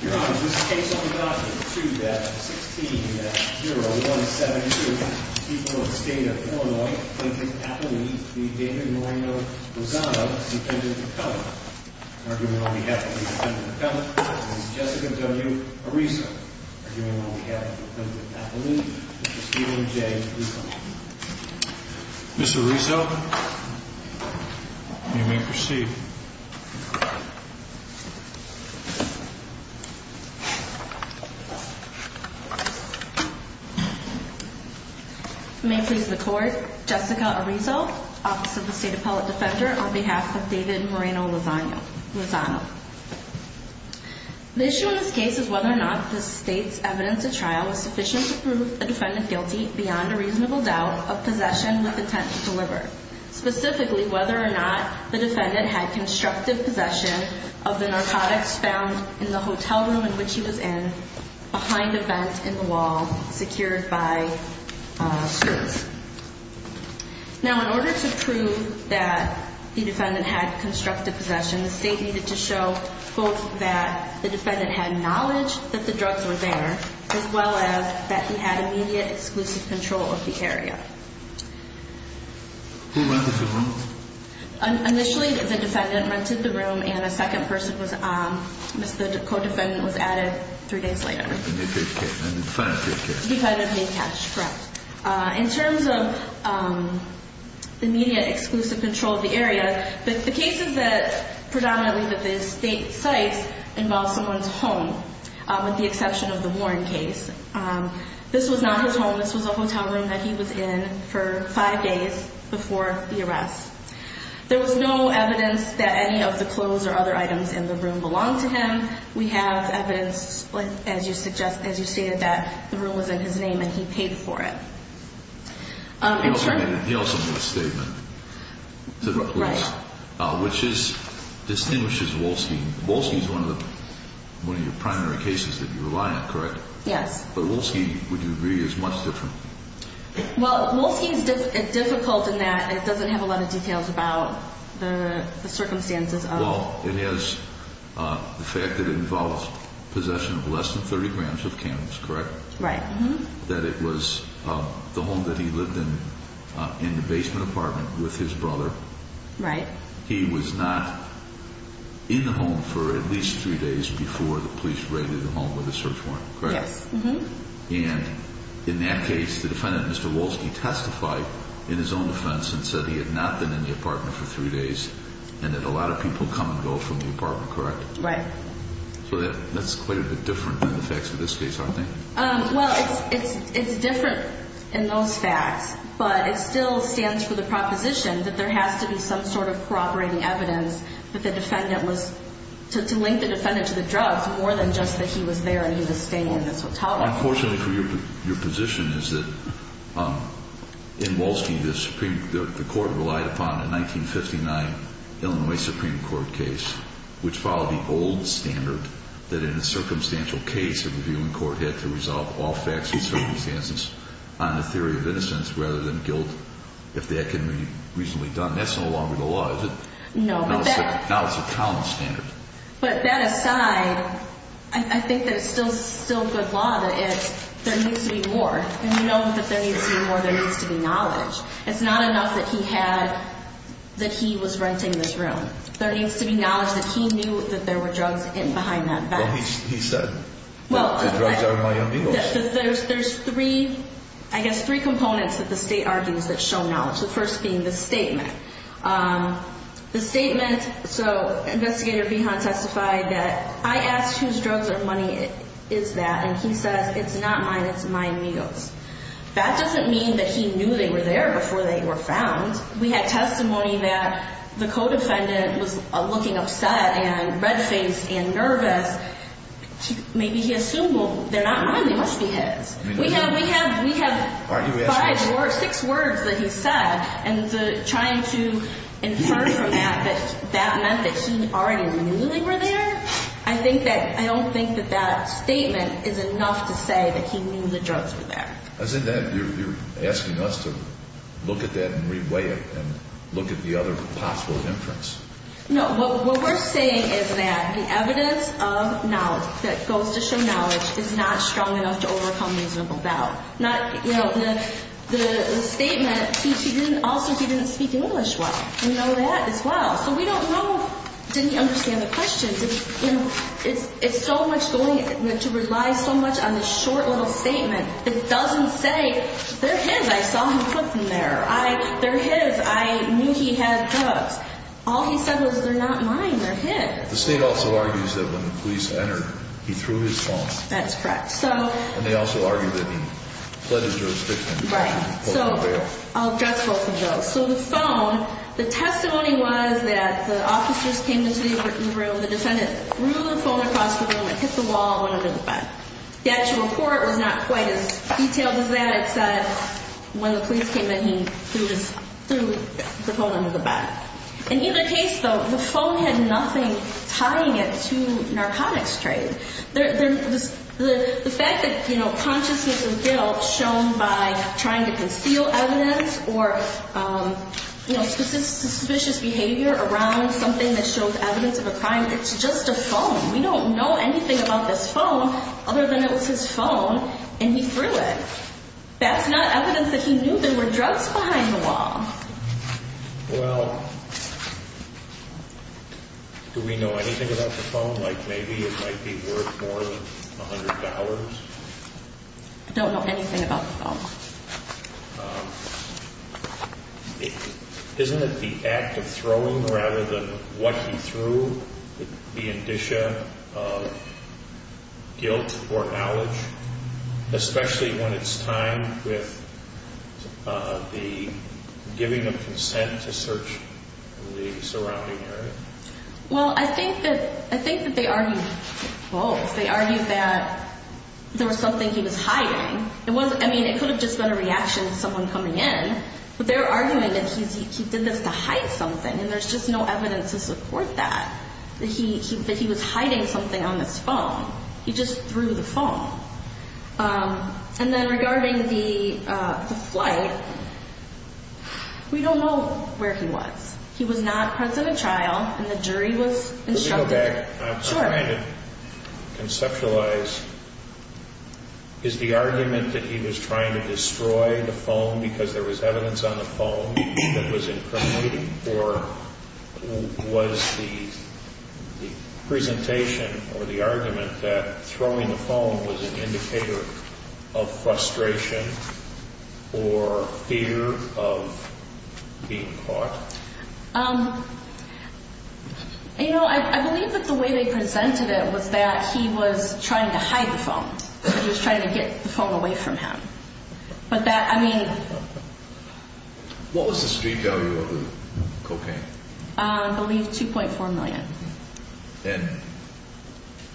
Your Honor, this case on the docket, 2-16-0172, people of the state of Illinois, Clinton, Appaloo, v. David Moreno-Lozano, is intended to cover. In argument on behalf of the defendant, the defendant, this is Jessica W. Arizo. In argument on behalf of the defendant, Appaloo, this is Stephen J. Rizzo. Mr. Arizo, you may proceed. You may proceed. You may please record. Jessica Arizo, Office of the State Appellate Defender, on behalf of David Moreno-Lozano. The issue in this case is whether or not the state's evidence at trial was sufficient to prove the defendant guilty, beyond a reasonable doubt, of possession with intent to deliver. Specifically, whether or not the defendant had constructive possession of the narcotics found in the hotel room in which he was in, behind a vent in the wall secured by security. Now, in order to prove that the defendant had constructive possession, the state needed to show both that the defendant had knowledge that the drugs were there, as well as that he had immediate exclusive control of the area. Who rented the room? Initially, the defendant rented the room, and a second person, the co-defendant, was added three days later. And he paid cash? He paid cash, correct. In terms of the immediate exclusive control of the area, the cases that predominantly that the state cites involve someone's home, with the exception of the Warren case. This was not his home. This was a hotel room that he was in for five days before the arrest. There was no evidence that any of the clothes or other items in the room belonged to him. We have evidence, as you stated, that the room was in his name, and he paid for it. He also made a statement, which distinguishes Wolski. Wolski is one of your primary cases that you rely on, correct? Yes. But Wolski, would you agree, is much different? Well, Wolski is difficult in that it doesn't have a lot of details about the circumstances of… Well, it has the fact that it involves possession of less than 30 grams of cannabis, correct? Right. That it was the home that he lived in, in the basement apartment with his brother. Right. He was not in the home for at least three days before the police raided the home with a search warrant, correct? Yes. And in that case, the defendant, Mr. Wolski, testified in his own defense and said he had not been in the apartment for three days and that a lot of people come and go from the apartment, correct? Right. So that's quite a bit different than the facts of this case, aren't they? Well, it's different in those facts, but it still stands for the proposition that there has to be some sort of corroborating evidence that the defendant was… Unfortunately for you, your position is that in Wolski, the Supreme Court relied upon a 1959 Illinois Supreme Court case which followed the old standard that in a circumstantial case, the reviewing court had to resolve all facts and circumstances on the theory of innocence rather than guilt, if that can be reasonably done. That's no longer the law, is it? No. Now it's a common standard. But that aside, I think that it's still good law that there needs to be more. And you know that there needs to be more. There needs to be knowledge. It's not enough that he was renting this room. There needs to be knowledge that he knew that there were drugs behind that vent. Well, he said, the drugs are my own deals. There's three, I guess, three components that the State argues that show knowledge, the first being the statement. The statement, so Investigator Pihon testified that, I asked whose drugs or money is that, and he says, it's not mine, it's my meals. That doesn't mean that he knew they were there before they were found. We had testimony that the co-defendant was looking upset and red-faced and nervous. Maybe he assumed, well, they're not mine, they must be his. We have five or six words that he said, and trying to infer from that that that meant that he already knew they were there, I don't think that that statement is enough to say that he knew the drugs were there. As in that, you're asking us to look at that and re-weigh it and look at the other possible inference. No, what we're saying is that the evidence of knowledge that goes to show knowledge is not strong enough to overcome reasonable doubt. The statement, he didn't speak English well. We know that as well. So we don't know if he didn't understand the questions. It's so much going to rely so much on this short little statement that doesn't say, they're his, I saw him put them there. They're his, I knew he had drugs. All he said was, they're not mine, they're his. The state also argues that when the police entered, he threw his phone. That's correct. And they also argue that he fled his jurisdiction. Right. So I'll address both of those. So the phone, the testimony was that the officers came into the written room, the defendant threw the phone across the room, it hit the wall, it went under the bed. The actual court was not quite as detailed as that, except when the police came in, he threw the phone under the bed. In either case, though, the phone had nothing tying it to narcotics trade. The fact that consciousness of guilt shown by trying to conceal evidence or suspicious behavior around something that shows evidence of a crime, it's just a phone. We don't know anything about this phone other than it was his phone and he threw it. That's not evidence that he knew there were drugs behind the wall. Well, do we know anything about the phone? Like maybe it might be worth more than $100? I don't know anything about the phone. Isn't it the act of throwing rather than what he threw the indicia of guilt or knowledge, especially when it's time with the giving of consent to search the surrounding area? Well, I think that they argued both. They argued that there was something he was hiding. I mean, it could have just been a reaction to someone coming in, but their argument that he did this to hide something and there's just no evidence to support that, that he was hiding something on his phone. He just threw the phone. And then regarding the flight, we don't know where he was. He was not present at trial and the jury was instructed. Can we go back? Sure. I'm trying to conceptualize. Is the argument that he was trying to destroy the phone because there was evidence on the phone that was incriminating or was the presentation or the argument that throwing the phone was an indicator of frustration or fear of being caught? You know, I believe that the way they presented it was that he was trying to hide the phone. He was trying to get the phone away from him. But that, I mean. What was the street value of the cocaine? I believe $2.4 million. And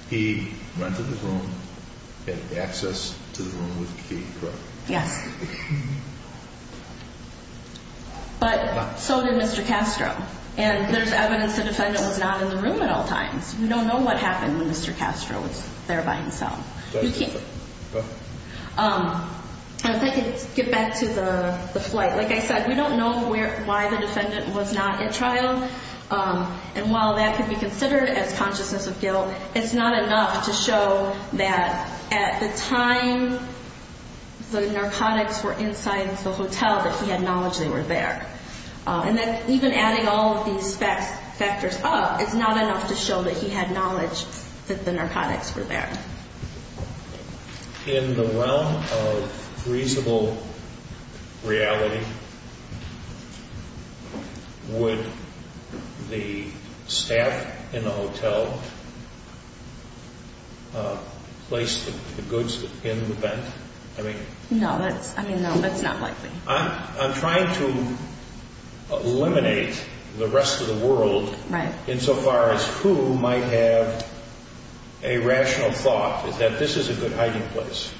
he rented the room, had access to the room with Kate Crook. Yes. But so did Mr. Castro. And there's evidence the defendant was not in the room at all times. We don't know what happened when Mr. Castro was there by himself. And if I could get back to the flight. Like I said, we don't know why the defendant was not at trial. And while that could be considered as consciousness of guilt, it's not enough to show that at the time the narcotics were inside the hotel, that he had knowledge they were there. And that even adding all of these factors up, it's not enough to show that he had knowledge that the narcotics were there. In the realm of reasonable reality, would the staff in the hotel place the goods in the vent? No, that's not likely. I'm trying to eliminate the rest of the world. Insofar as who might have a rational thought that this is a good hiding place.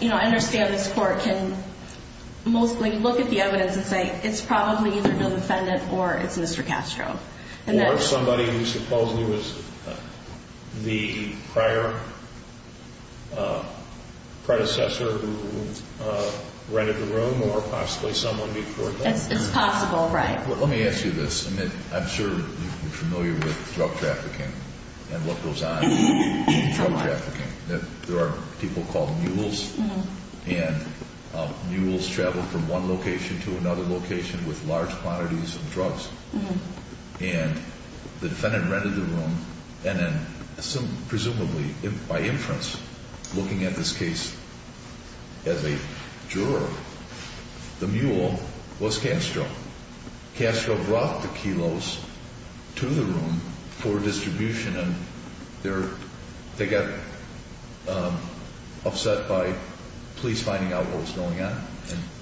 I understand this court can mostly look at the evidence and say it's probably either the defendant or it's Mr. Castro. Or somebody who supposedly was the prior predecessor who rented the room or possibly someone before that. It's possible, right. Let me ask you this. I'm sure you're familiar with drug trafficking and what goes on in drug trafficking. There are people called mules. And mules travel from one location to another location with large quantities of drugs. And the defendant rented the room. And then presumably by inference, looking at this case as a juror, the mule was Castro. Castro brought the kilos to the room for distribution. And they got upset by police finding out what was going on.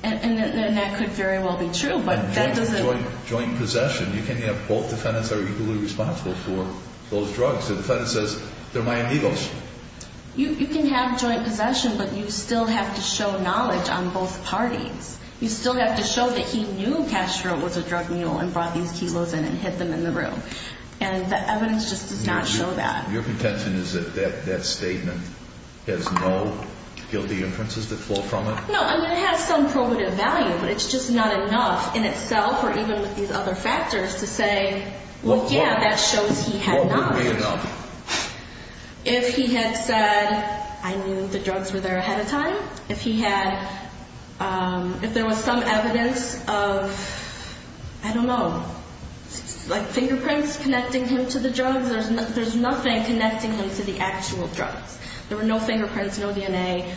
And that could very well be true. And joint possession. You can have both defendants that are equally responsible for those drugs. The defendant says, they're my amigos. You can have joint possession, but you still have to show knowledge on both parties. You still have to show that he knew Castro was a drug mule and brought these kilos in and hid them in the room. And the evidence just does not show that. Your contention is that that statement has no guilty inferences that flow from it? No. I mean, it has some probative value, but it's just not enough in itself or even with these other factors to say, well, yeah, that shows he had knowledge. If he had said, I knew the drugs were there ahead of time. If he had, if there was some evidence of, I don't know, like fingerprints connecting him to the drugs, there's nothing connecting him to the actual drugs. There were no fingerprints, no DNA.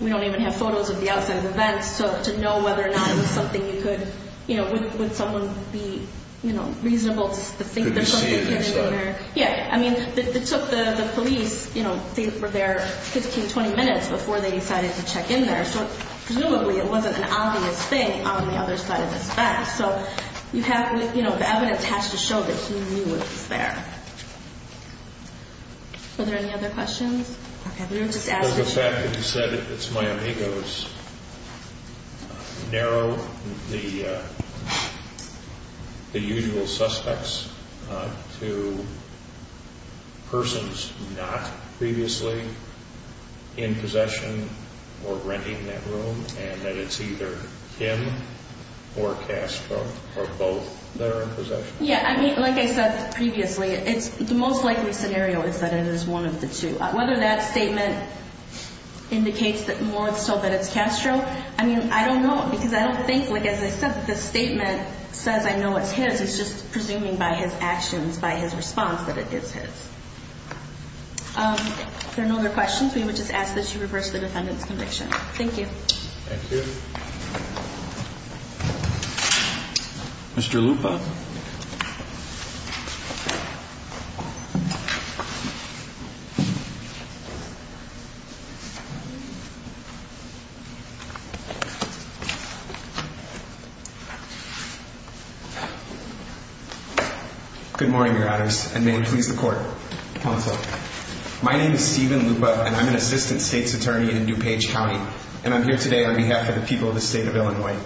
We don't even have photos of the outside of the vents to know whether or not it was something you could, you know, would someone be, you know, reasonable to think there's something hidden in there. Yeah, I mean, it took the police, you know, they were there 15, 20 minutes before they decided to check in there. So presumably it wasn't an obvious thing on the other side of this back. So you have, you know, the evidence has to show that he knew it was there. Were there any other questions? Okay. Do my amigos narrow the usual suspects to persons not previously in possession or renting that room and that it's either him or Castro or both that are in possession? Yeah, I mean, like I said previously, it's the most likely scenario is that it is one of the two. Whether that statement indicates that more so that it's Castro, I mean, I don't know because I don't think, like, as I said, the statement says I know it's his. It's just presuming by his actions, by his response, that it is his. If there are no other questions, we would just ask that you reverse the defendant's conviction. Thank you. Thank you. Mr. Lupa. Good morning, Your Honors, and may it please the Court, Counsel. My name is Steven Lupa, and I'm an assistant state's attorney in DuPage County, and I'm here today on behalf of the people of the state of Illinois.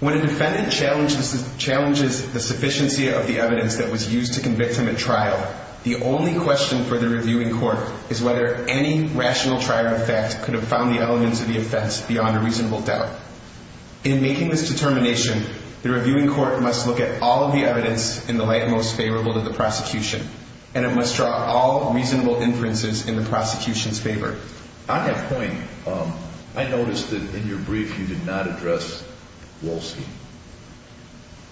When a defendant challenges the sufficiency of the evidence that was used to convict him at trial, the only question for the reviewing court is whether any rational trial of fact could have found the elements of the offense beyond a reasonable doubt. In making this determination, the reviewing court must look at all of the evidence in the light most favorable to the prosecution, and it must draw all reasonable inferences in the prosecution's favor. On that point, I noticed that in your brief you did not address Wolski.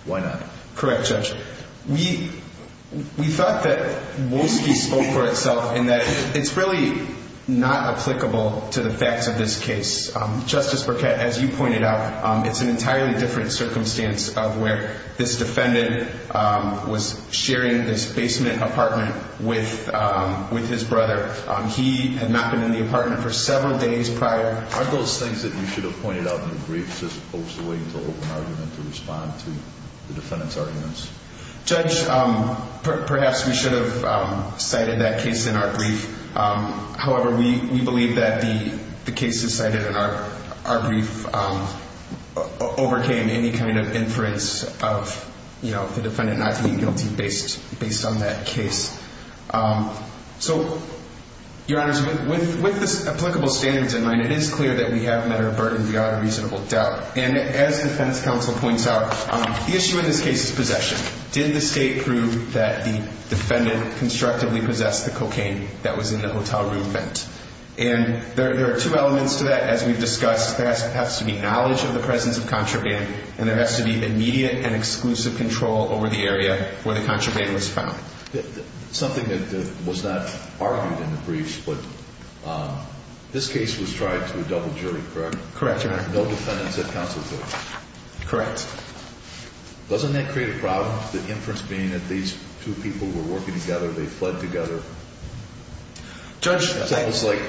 Why not? Correct, Judge. We thought that Wolski spoke for itself in that it's really not applicable to the facts of this case. Justice Burkett, as you pointed out, it's an entirely different circumstance of where this defendant was sharing this basement apartment with his brother. He had not been in the apartment for several days prior. Aren't those things that you should have pointed out in the brief just opposed to waiting for an open argument to respond to the defendant's arguments? Judge, perhaps we should have cited that case in our brief. However, we believe that the cases cited in our brief overcame any kind of inference of the defendant not being guilty based on that case. So, Your Honors, with the applicable standards in mind, it is clear that we have met our burden without a reasonable doubt. And as defense counsel points out, the issue in this case is possession. Did the state prove that the defendant constructively possessed the cocaine that was in the hotel room vent? And there are two elements to that, as we've discussed. There has to be knowledge of the presence of contraband, and there has to be immediate and exclusive control over the area where the contraband was found. Something that was not argued in the briefs, but this case was tried to a double jury, correct? Correct, Your Honor. No defendants at counsel took it? Correct. Doesn't that create a problem? The inference being that these two people were working together, they fled together. It's almost like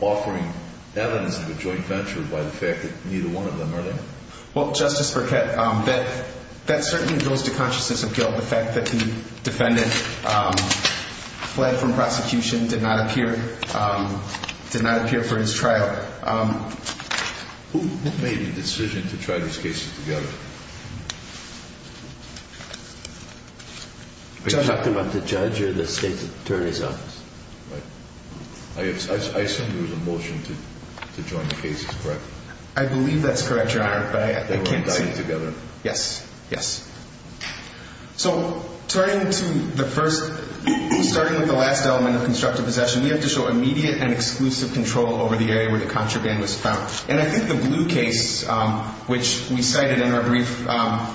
offering evidence of a joint venture by the fact that neither one of them are there. Well, Justice Burkett, that certainly goes to consciousness of guilt, the fact that the defendant fled from prosecution, did not appear for his trial. Who made the decision to try these cases together? Are you talking about the judge or the state attorney's office? I assume there was a motion to join the cases, correct? I believe that's correct, Your Honor, but I can't say. They were all seen together? Yes. So starting with the last element of constructive possession, we have to show immediate and exclusive control over the area where the contraband was found. And I think the blue case, which we cited in our brief,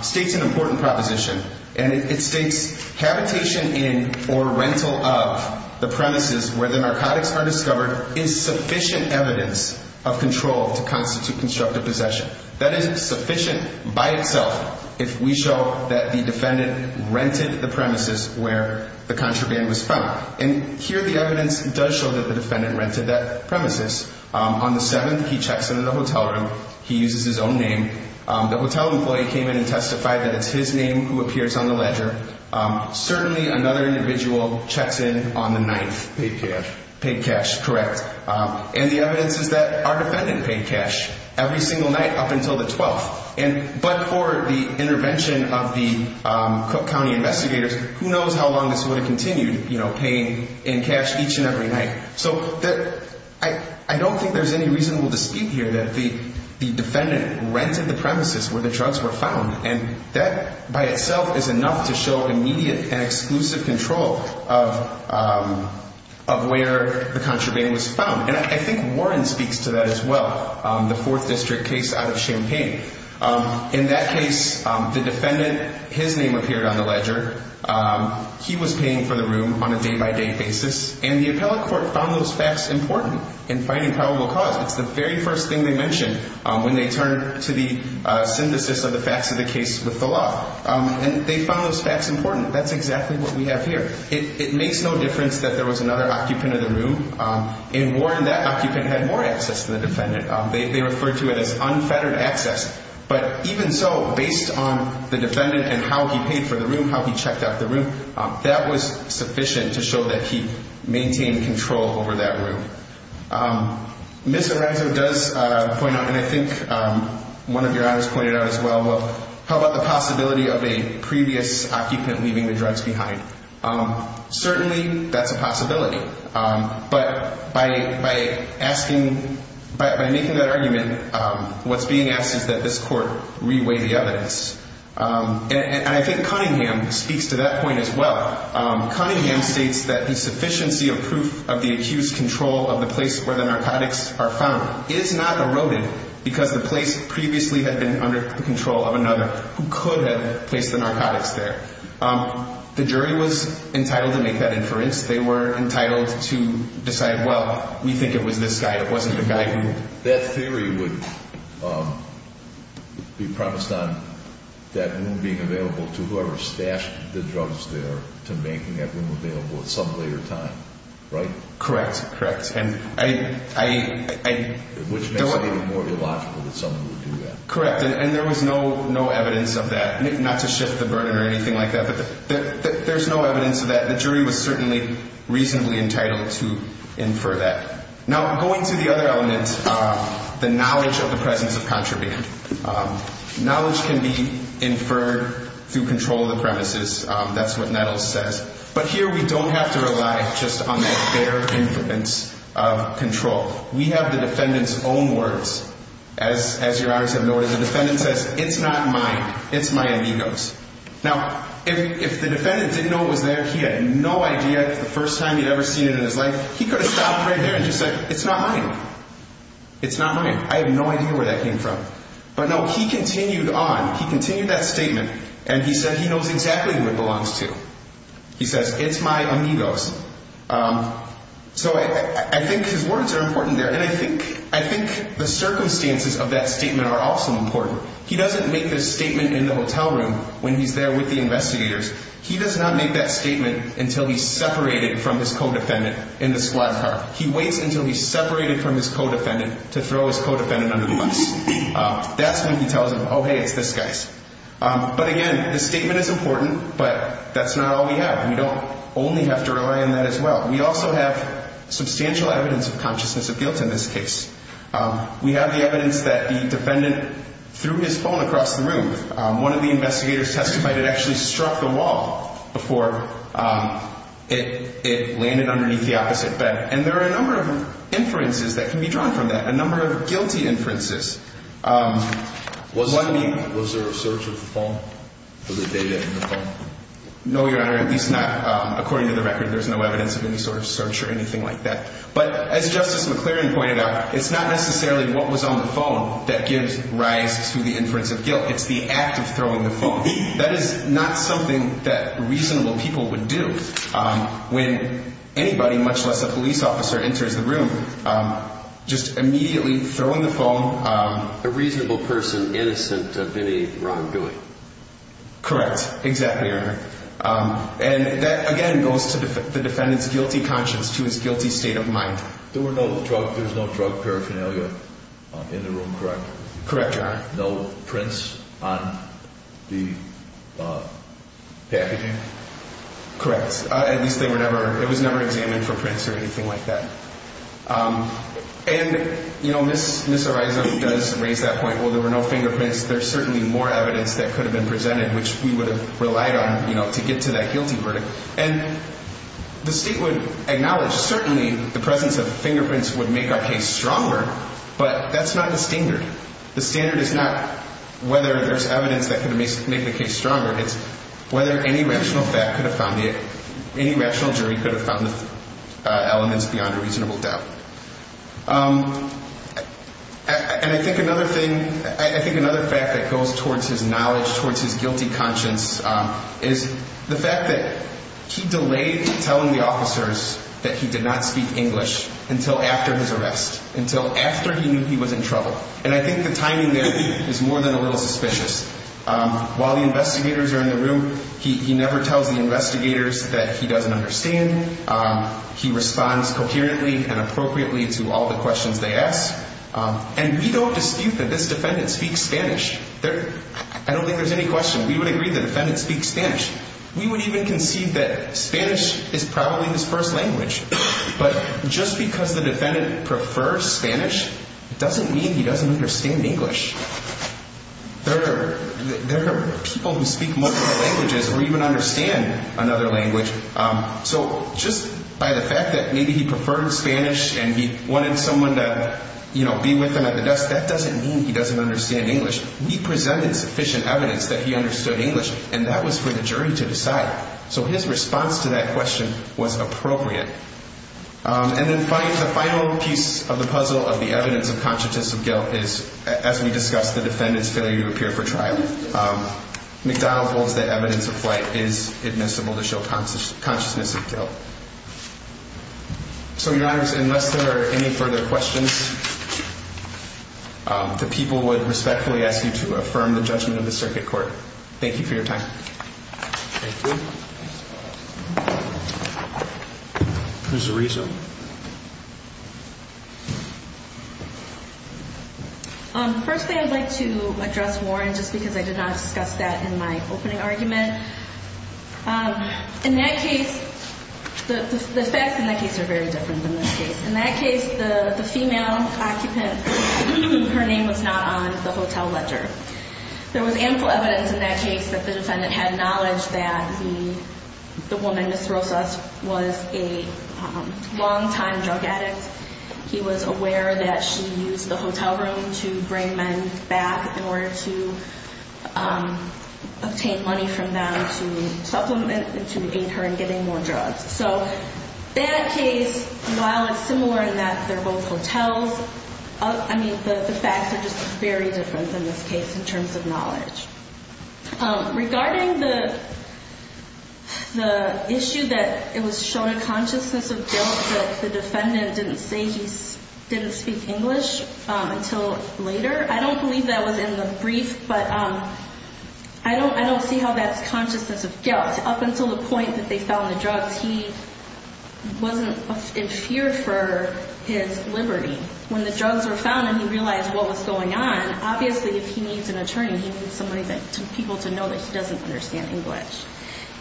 states an important proposition. And it states, habitation in or rental of the premises where the narcotics are discovered is sufficient evidence of control to constitute constructive possession. That is sufficient by itself if we show that the defendant rented the premises where the contraband was found. And here the evidence does show that the defendant rented that premises. On the 7th, he checks into the hotel room. He uses his own name. The hotel employee came in and testified that it's his name who appears on the ledger. Certainly another individual checks in on the 9th. Paid cash. Paid cash, correct. And the evidence is that our defendant paid cash. Every single night up until the 12th. But for the intervention of the Cook County investigators, who knows how long this would have continued, paying in cash each and every night. So I don't think there's any reasonable dispute here that the defendant rented the premises where the drugs were found. And that by itself is enough to show immediate and exclusive control of where the contraband was found. And I think Warren speaks to that as well. The 4th District case out of Champaign. In that case, the defendant, his name appeared on the ledger. He was paying for the room on a day-by-day basis. And the appellate court found those facts important in finding probable cause. It's the very first thing they mentioned when they turned to the synthesis of the facts of the case with the law. And they found those facts important. That's exactly what we have here. It makes no difference that there was another occupant in the room. In Warren, that occupant had more access to the defendant. They referred to it as unfettered access. But even so, based on the defendant and how he paid for the room, how he checked out the room, that was sufficient to show that he maintained control over that room. Ms. Arazo does point out, and I think one of your others pointed out as well, how about the possibility of a previous occupant leaving the drugs behind? Certainly, that's a possibility. But by asking, by making that argument, what's being asked is that this court reweigh the evidence. And I think Cunningham speaks to that point as well. Cunningham states that the sufficiency of proof of the accused's control of the place where the narcotics are found is not eroded because the place previously had been under the control of another who could have placed the narcotics there. The jury was entitled to make that inference. They were entitled to decide, well, we think it was this guy. It wasn't the guy who- That theory would be promised on that room being available to whoever stashed the drugs there to making that room available at some later time, right? Correct, correct. Which makes it even more illogical that someone would do that. Correct. And there was no evidence of that, not to shift the burden or anything like that, but there's no evidence of that. The jury was certainly reasonably entitled to infer that. Now, going to the other element, the knowledge of the presence of contraband. Knowledge can be inferred through control of the premises. That's what Nettles says. But here, we don't have to rely just on that bare influence of control. We have the defendant's own words. As your Honors have noted, the defendant says, it's not mine. It's my amigo's. Now, if the defendant didn't know it was there, he had no idea the first time he'd ever seen it in his life, he could have stopped right there and just said, it's not mine. It's not mine. I have no idea where that came from. But no, he continued on. He continued that statement, and he said he knows exactly who it belongs to. He says, it's my amigo's. So I think his words are important there, and I think the circumstances of that statement are also important. He doesn't make this statement in the hotel room when he's there with the investigators. He does not make that statement until he's separated from his co-defendant in the squad car. He waits until he's separated from his co-defendant to throw his co-defendant under the bus. That's when he tells them, oh, hey, it's this guy's. But again, the statement is important, but that's not all we have. We don't only have to rely on that as well. We also have substantial evidence of consciousness of guilt in this case. We have the evidence that the defendant threw his phone across the room. One of the investigators testified it actually struck the wall before it landed underneath the opposite bed. And there are a number of inferences that can be drawn from that, a number of guilty inferences. Was there a search of the phone? Was there data in the phone? No, Your Honor, at least not. According to the record, there's no evidence of any sort of search or anything like that. But as Justice McLaren pointed out, it's not necessarily what was on the phone that gives rise to the inference of guilt. It's the act of throwing the phone. That is not something that reasonable people would do. When anybody, much less a police officer, enters the room, just immediately throwing the phone. A reasonable person, innocent of any wrongdoing. Correct. Exactly, Your Honor. And that, again, goes to the defendant's guilty conscience, to his guilty state of mind. There was no drug paraphernalia in the room, correct? Correct, Your Honor. No prints on the packaging? Correct. At least it was never examined for prints or anything like that. And, you know, Ms. Araiza does raise that point, well, there were no fingerprints. There's certainly more evidence that could have been presented, which we would have relied on, you know, to get to that guilty verdict. And the State would acknowledge, certainly, the presence of fingerprints would make our case stronger, but that's not the standard. The standard is not whether there's evidence that could make the case stronger. It's whether any rational fact could have found it, any rational jury could have found the elements beyond a reasonable doubt. And I think another thing, I think another fact that goes towards his knowledge, towards his guilty conscience, is the fact that he delayed telling the officers that he did not speak English until after his arrest, until after he knew he was in trouble. And I think the timing there is more than a little suspicious. While the investigators are in the room, he never tells the investigators that he doesn't understand. He responds coherently and appropriately to all the questions they ask. And we don't dispute that this defendant speaks Spanish. I don't think there's any question. We would agree the defendant speaks Spanish. We would even concede that Spanish is probably his first language. But just because the defendant prefers Spanish doesn't mean he doesn't understand English. There are people who speak multiple languages or even understand another language. So just by the fact that maybe he preferred Spanish and he wanted someone to, you know, be with him at the desk, that doesn't mean he doesn't understand English. We presented sufficient evidence that he understood English, and that was for the jury to decide. So his response to that question was appropriate. And then the final piece of the puzzle of the evidence of conscientious of guilt is, as we discussed, the defendant's failure to appear for trial. McDonald holds that evidence of flight is admissible to show consciousness of guilt. So, Your Honors, unless there are any further questions, the people would respectfully ask you to affirm the judgment of the circuit court. Thank you for your time. Thank you. There's a reason. The first thing I'd like to address, Warren, just because I did not discuss that in my opening argument. In that case, the facts in that case are very different than this case. In that case, the female occupant, her name was not on the hotel ledger. There was ample evidence in that case that the defendant had knowledge that the woman, Ms. Rosas, was a longtime drug addict. He was aware that she used the hotel room to bring men back in order to obtain money from them to supplement and to aid her in getting more drugs. So that case, while it's similar in that they're both hotels, I mean, the facts are just very different than this case. In terms of knowledge, regarding the issue that it was shown a consciousness of guilt that the defendant didn't say he didn't speak English until later. I don't believe that was in the brief, but I don't see how that's consciousness of guilt. Up until the point that they found the drugs, he wasn't in fear for his liberty. When the drugs were found and he realized what was going on, obviously if he needs an attorney, he needs somebody, people to know that he doesn't understand English.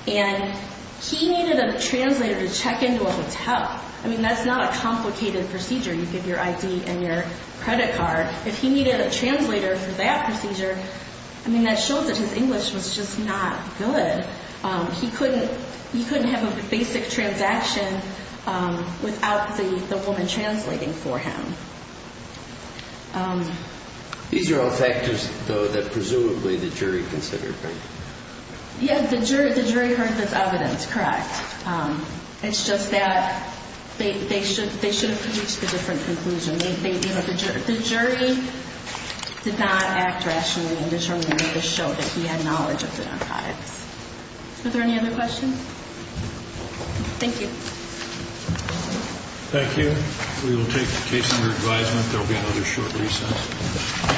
And he needed a translator to check into a hotel. I mean, that's not a complicated procedure. You give your ID and your credit card. If he needed a translator for that procedure, I mean, that shows that his English was just not good. He couldn't have a basic transaction without the woman translating for him. These are all factors, though, that presumably the jury considered, right? Yes, the jury heard this evidence, correct. It's just that they should have reached a different conclusion. The jury did not act rationally and determinedly to show that he had knowledge of the narcotics. Are there any other questions? Thank you. Thank you. We will take the case under advisement. There will be another short recess.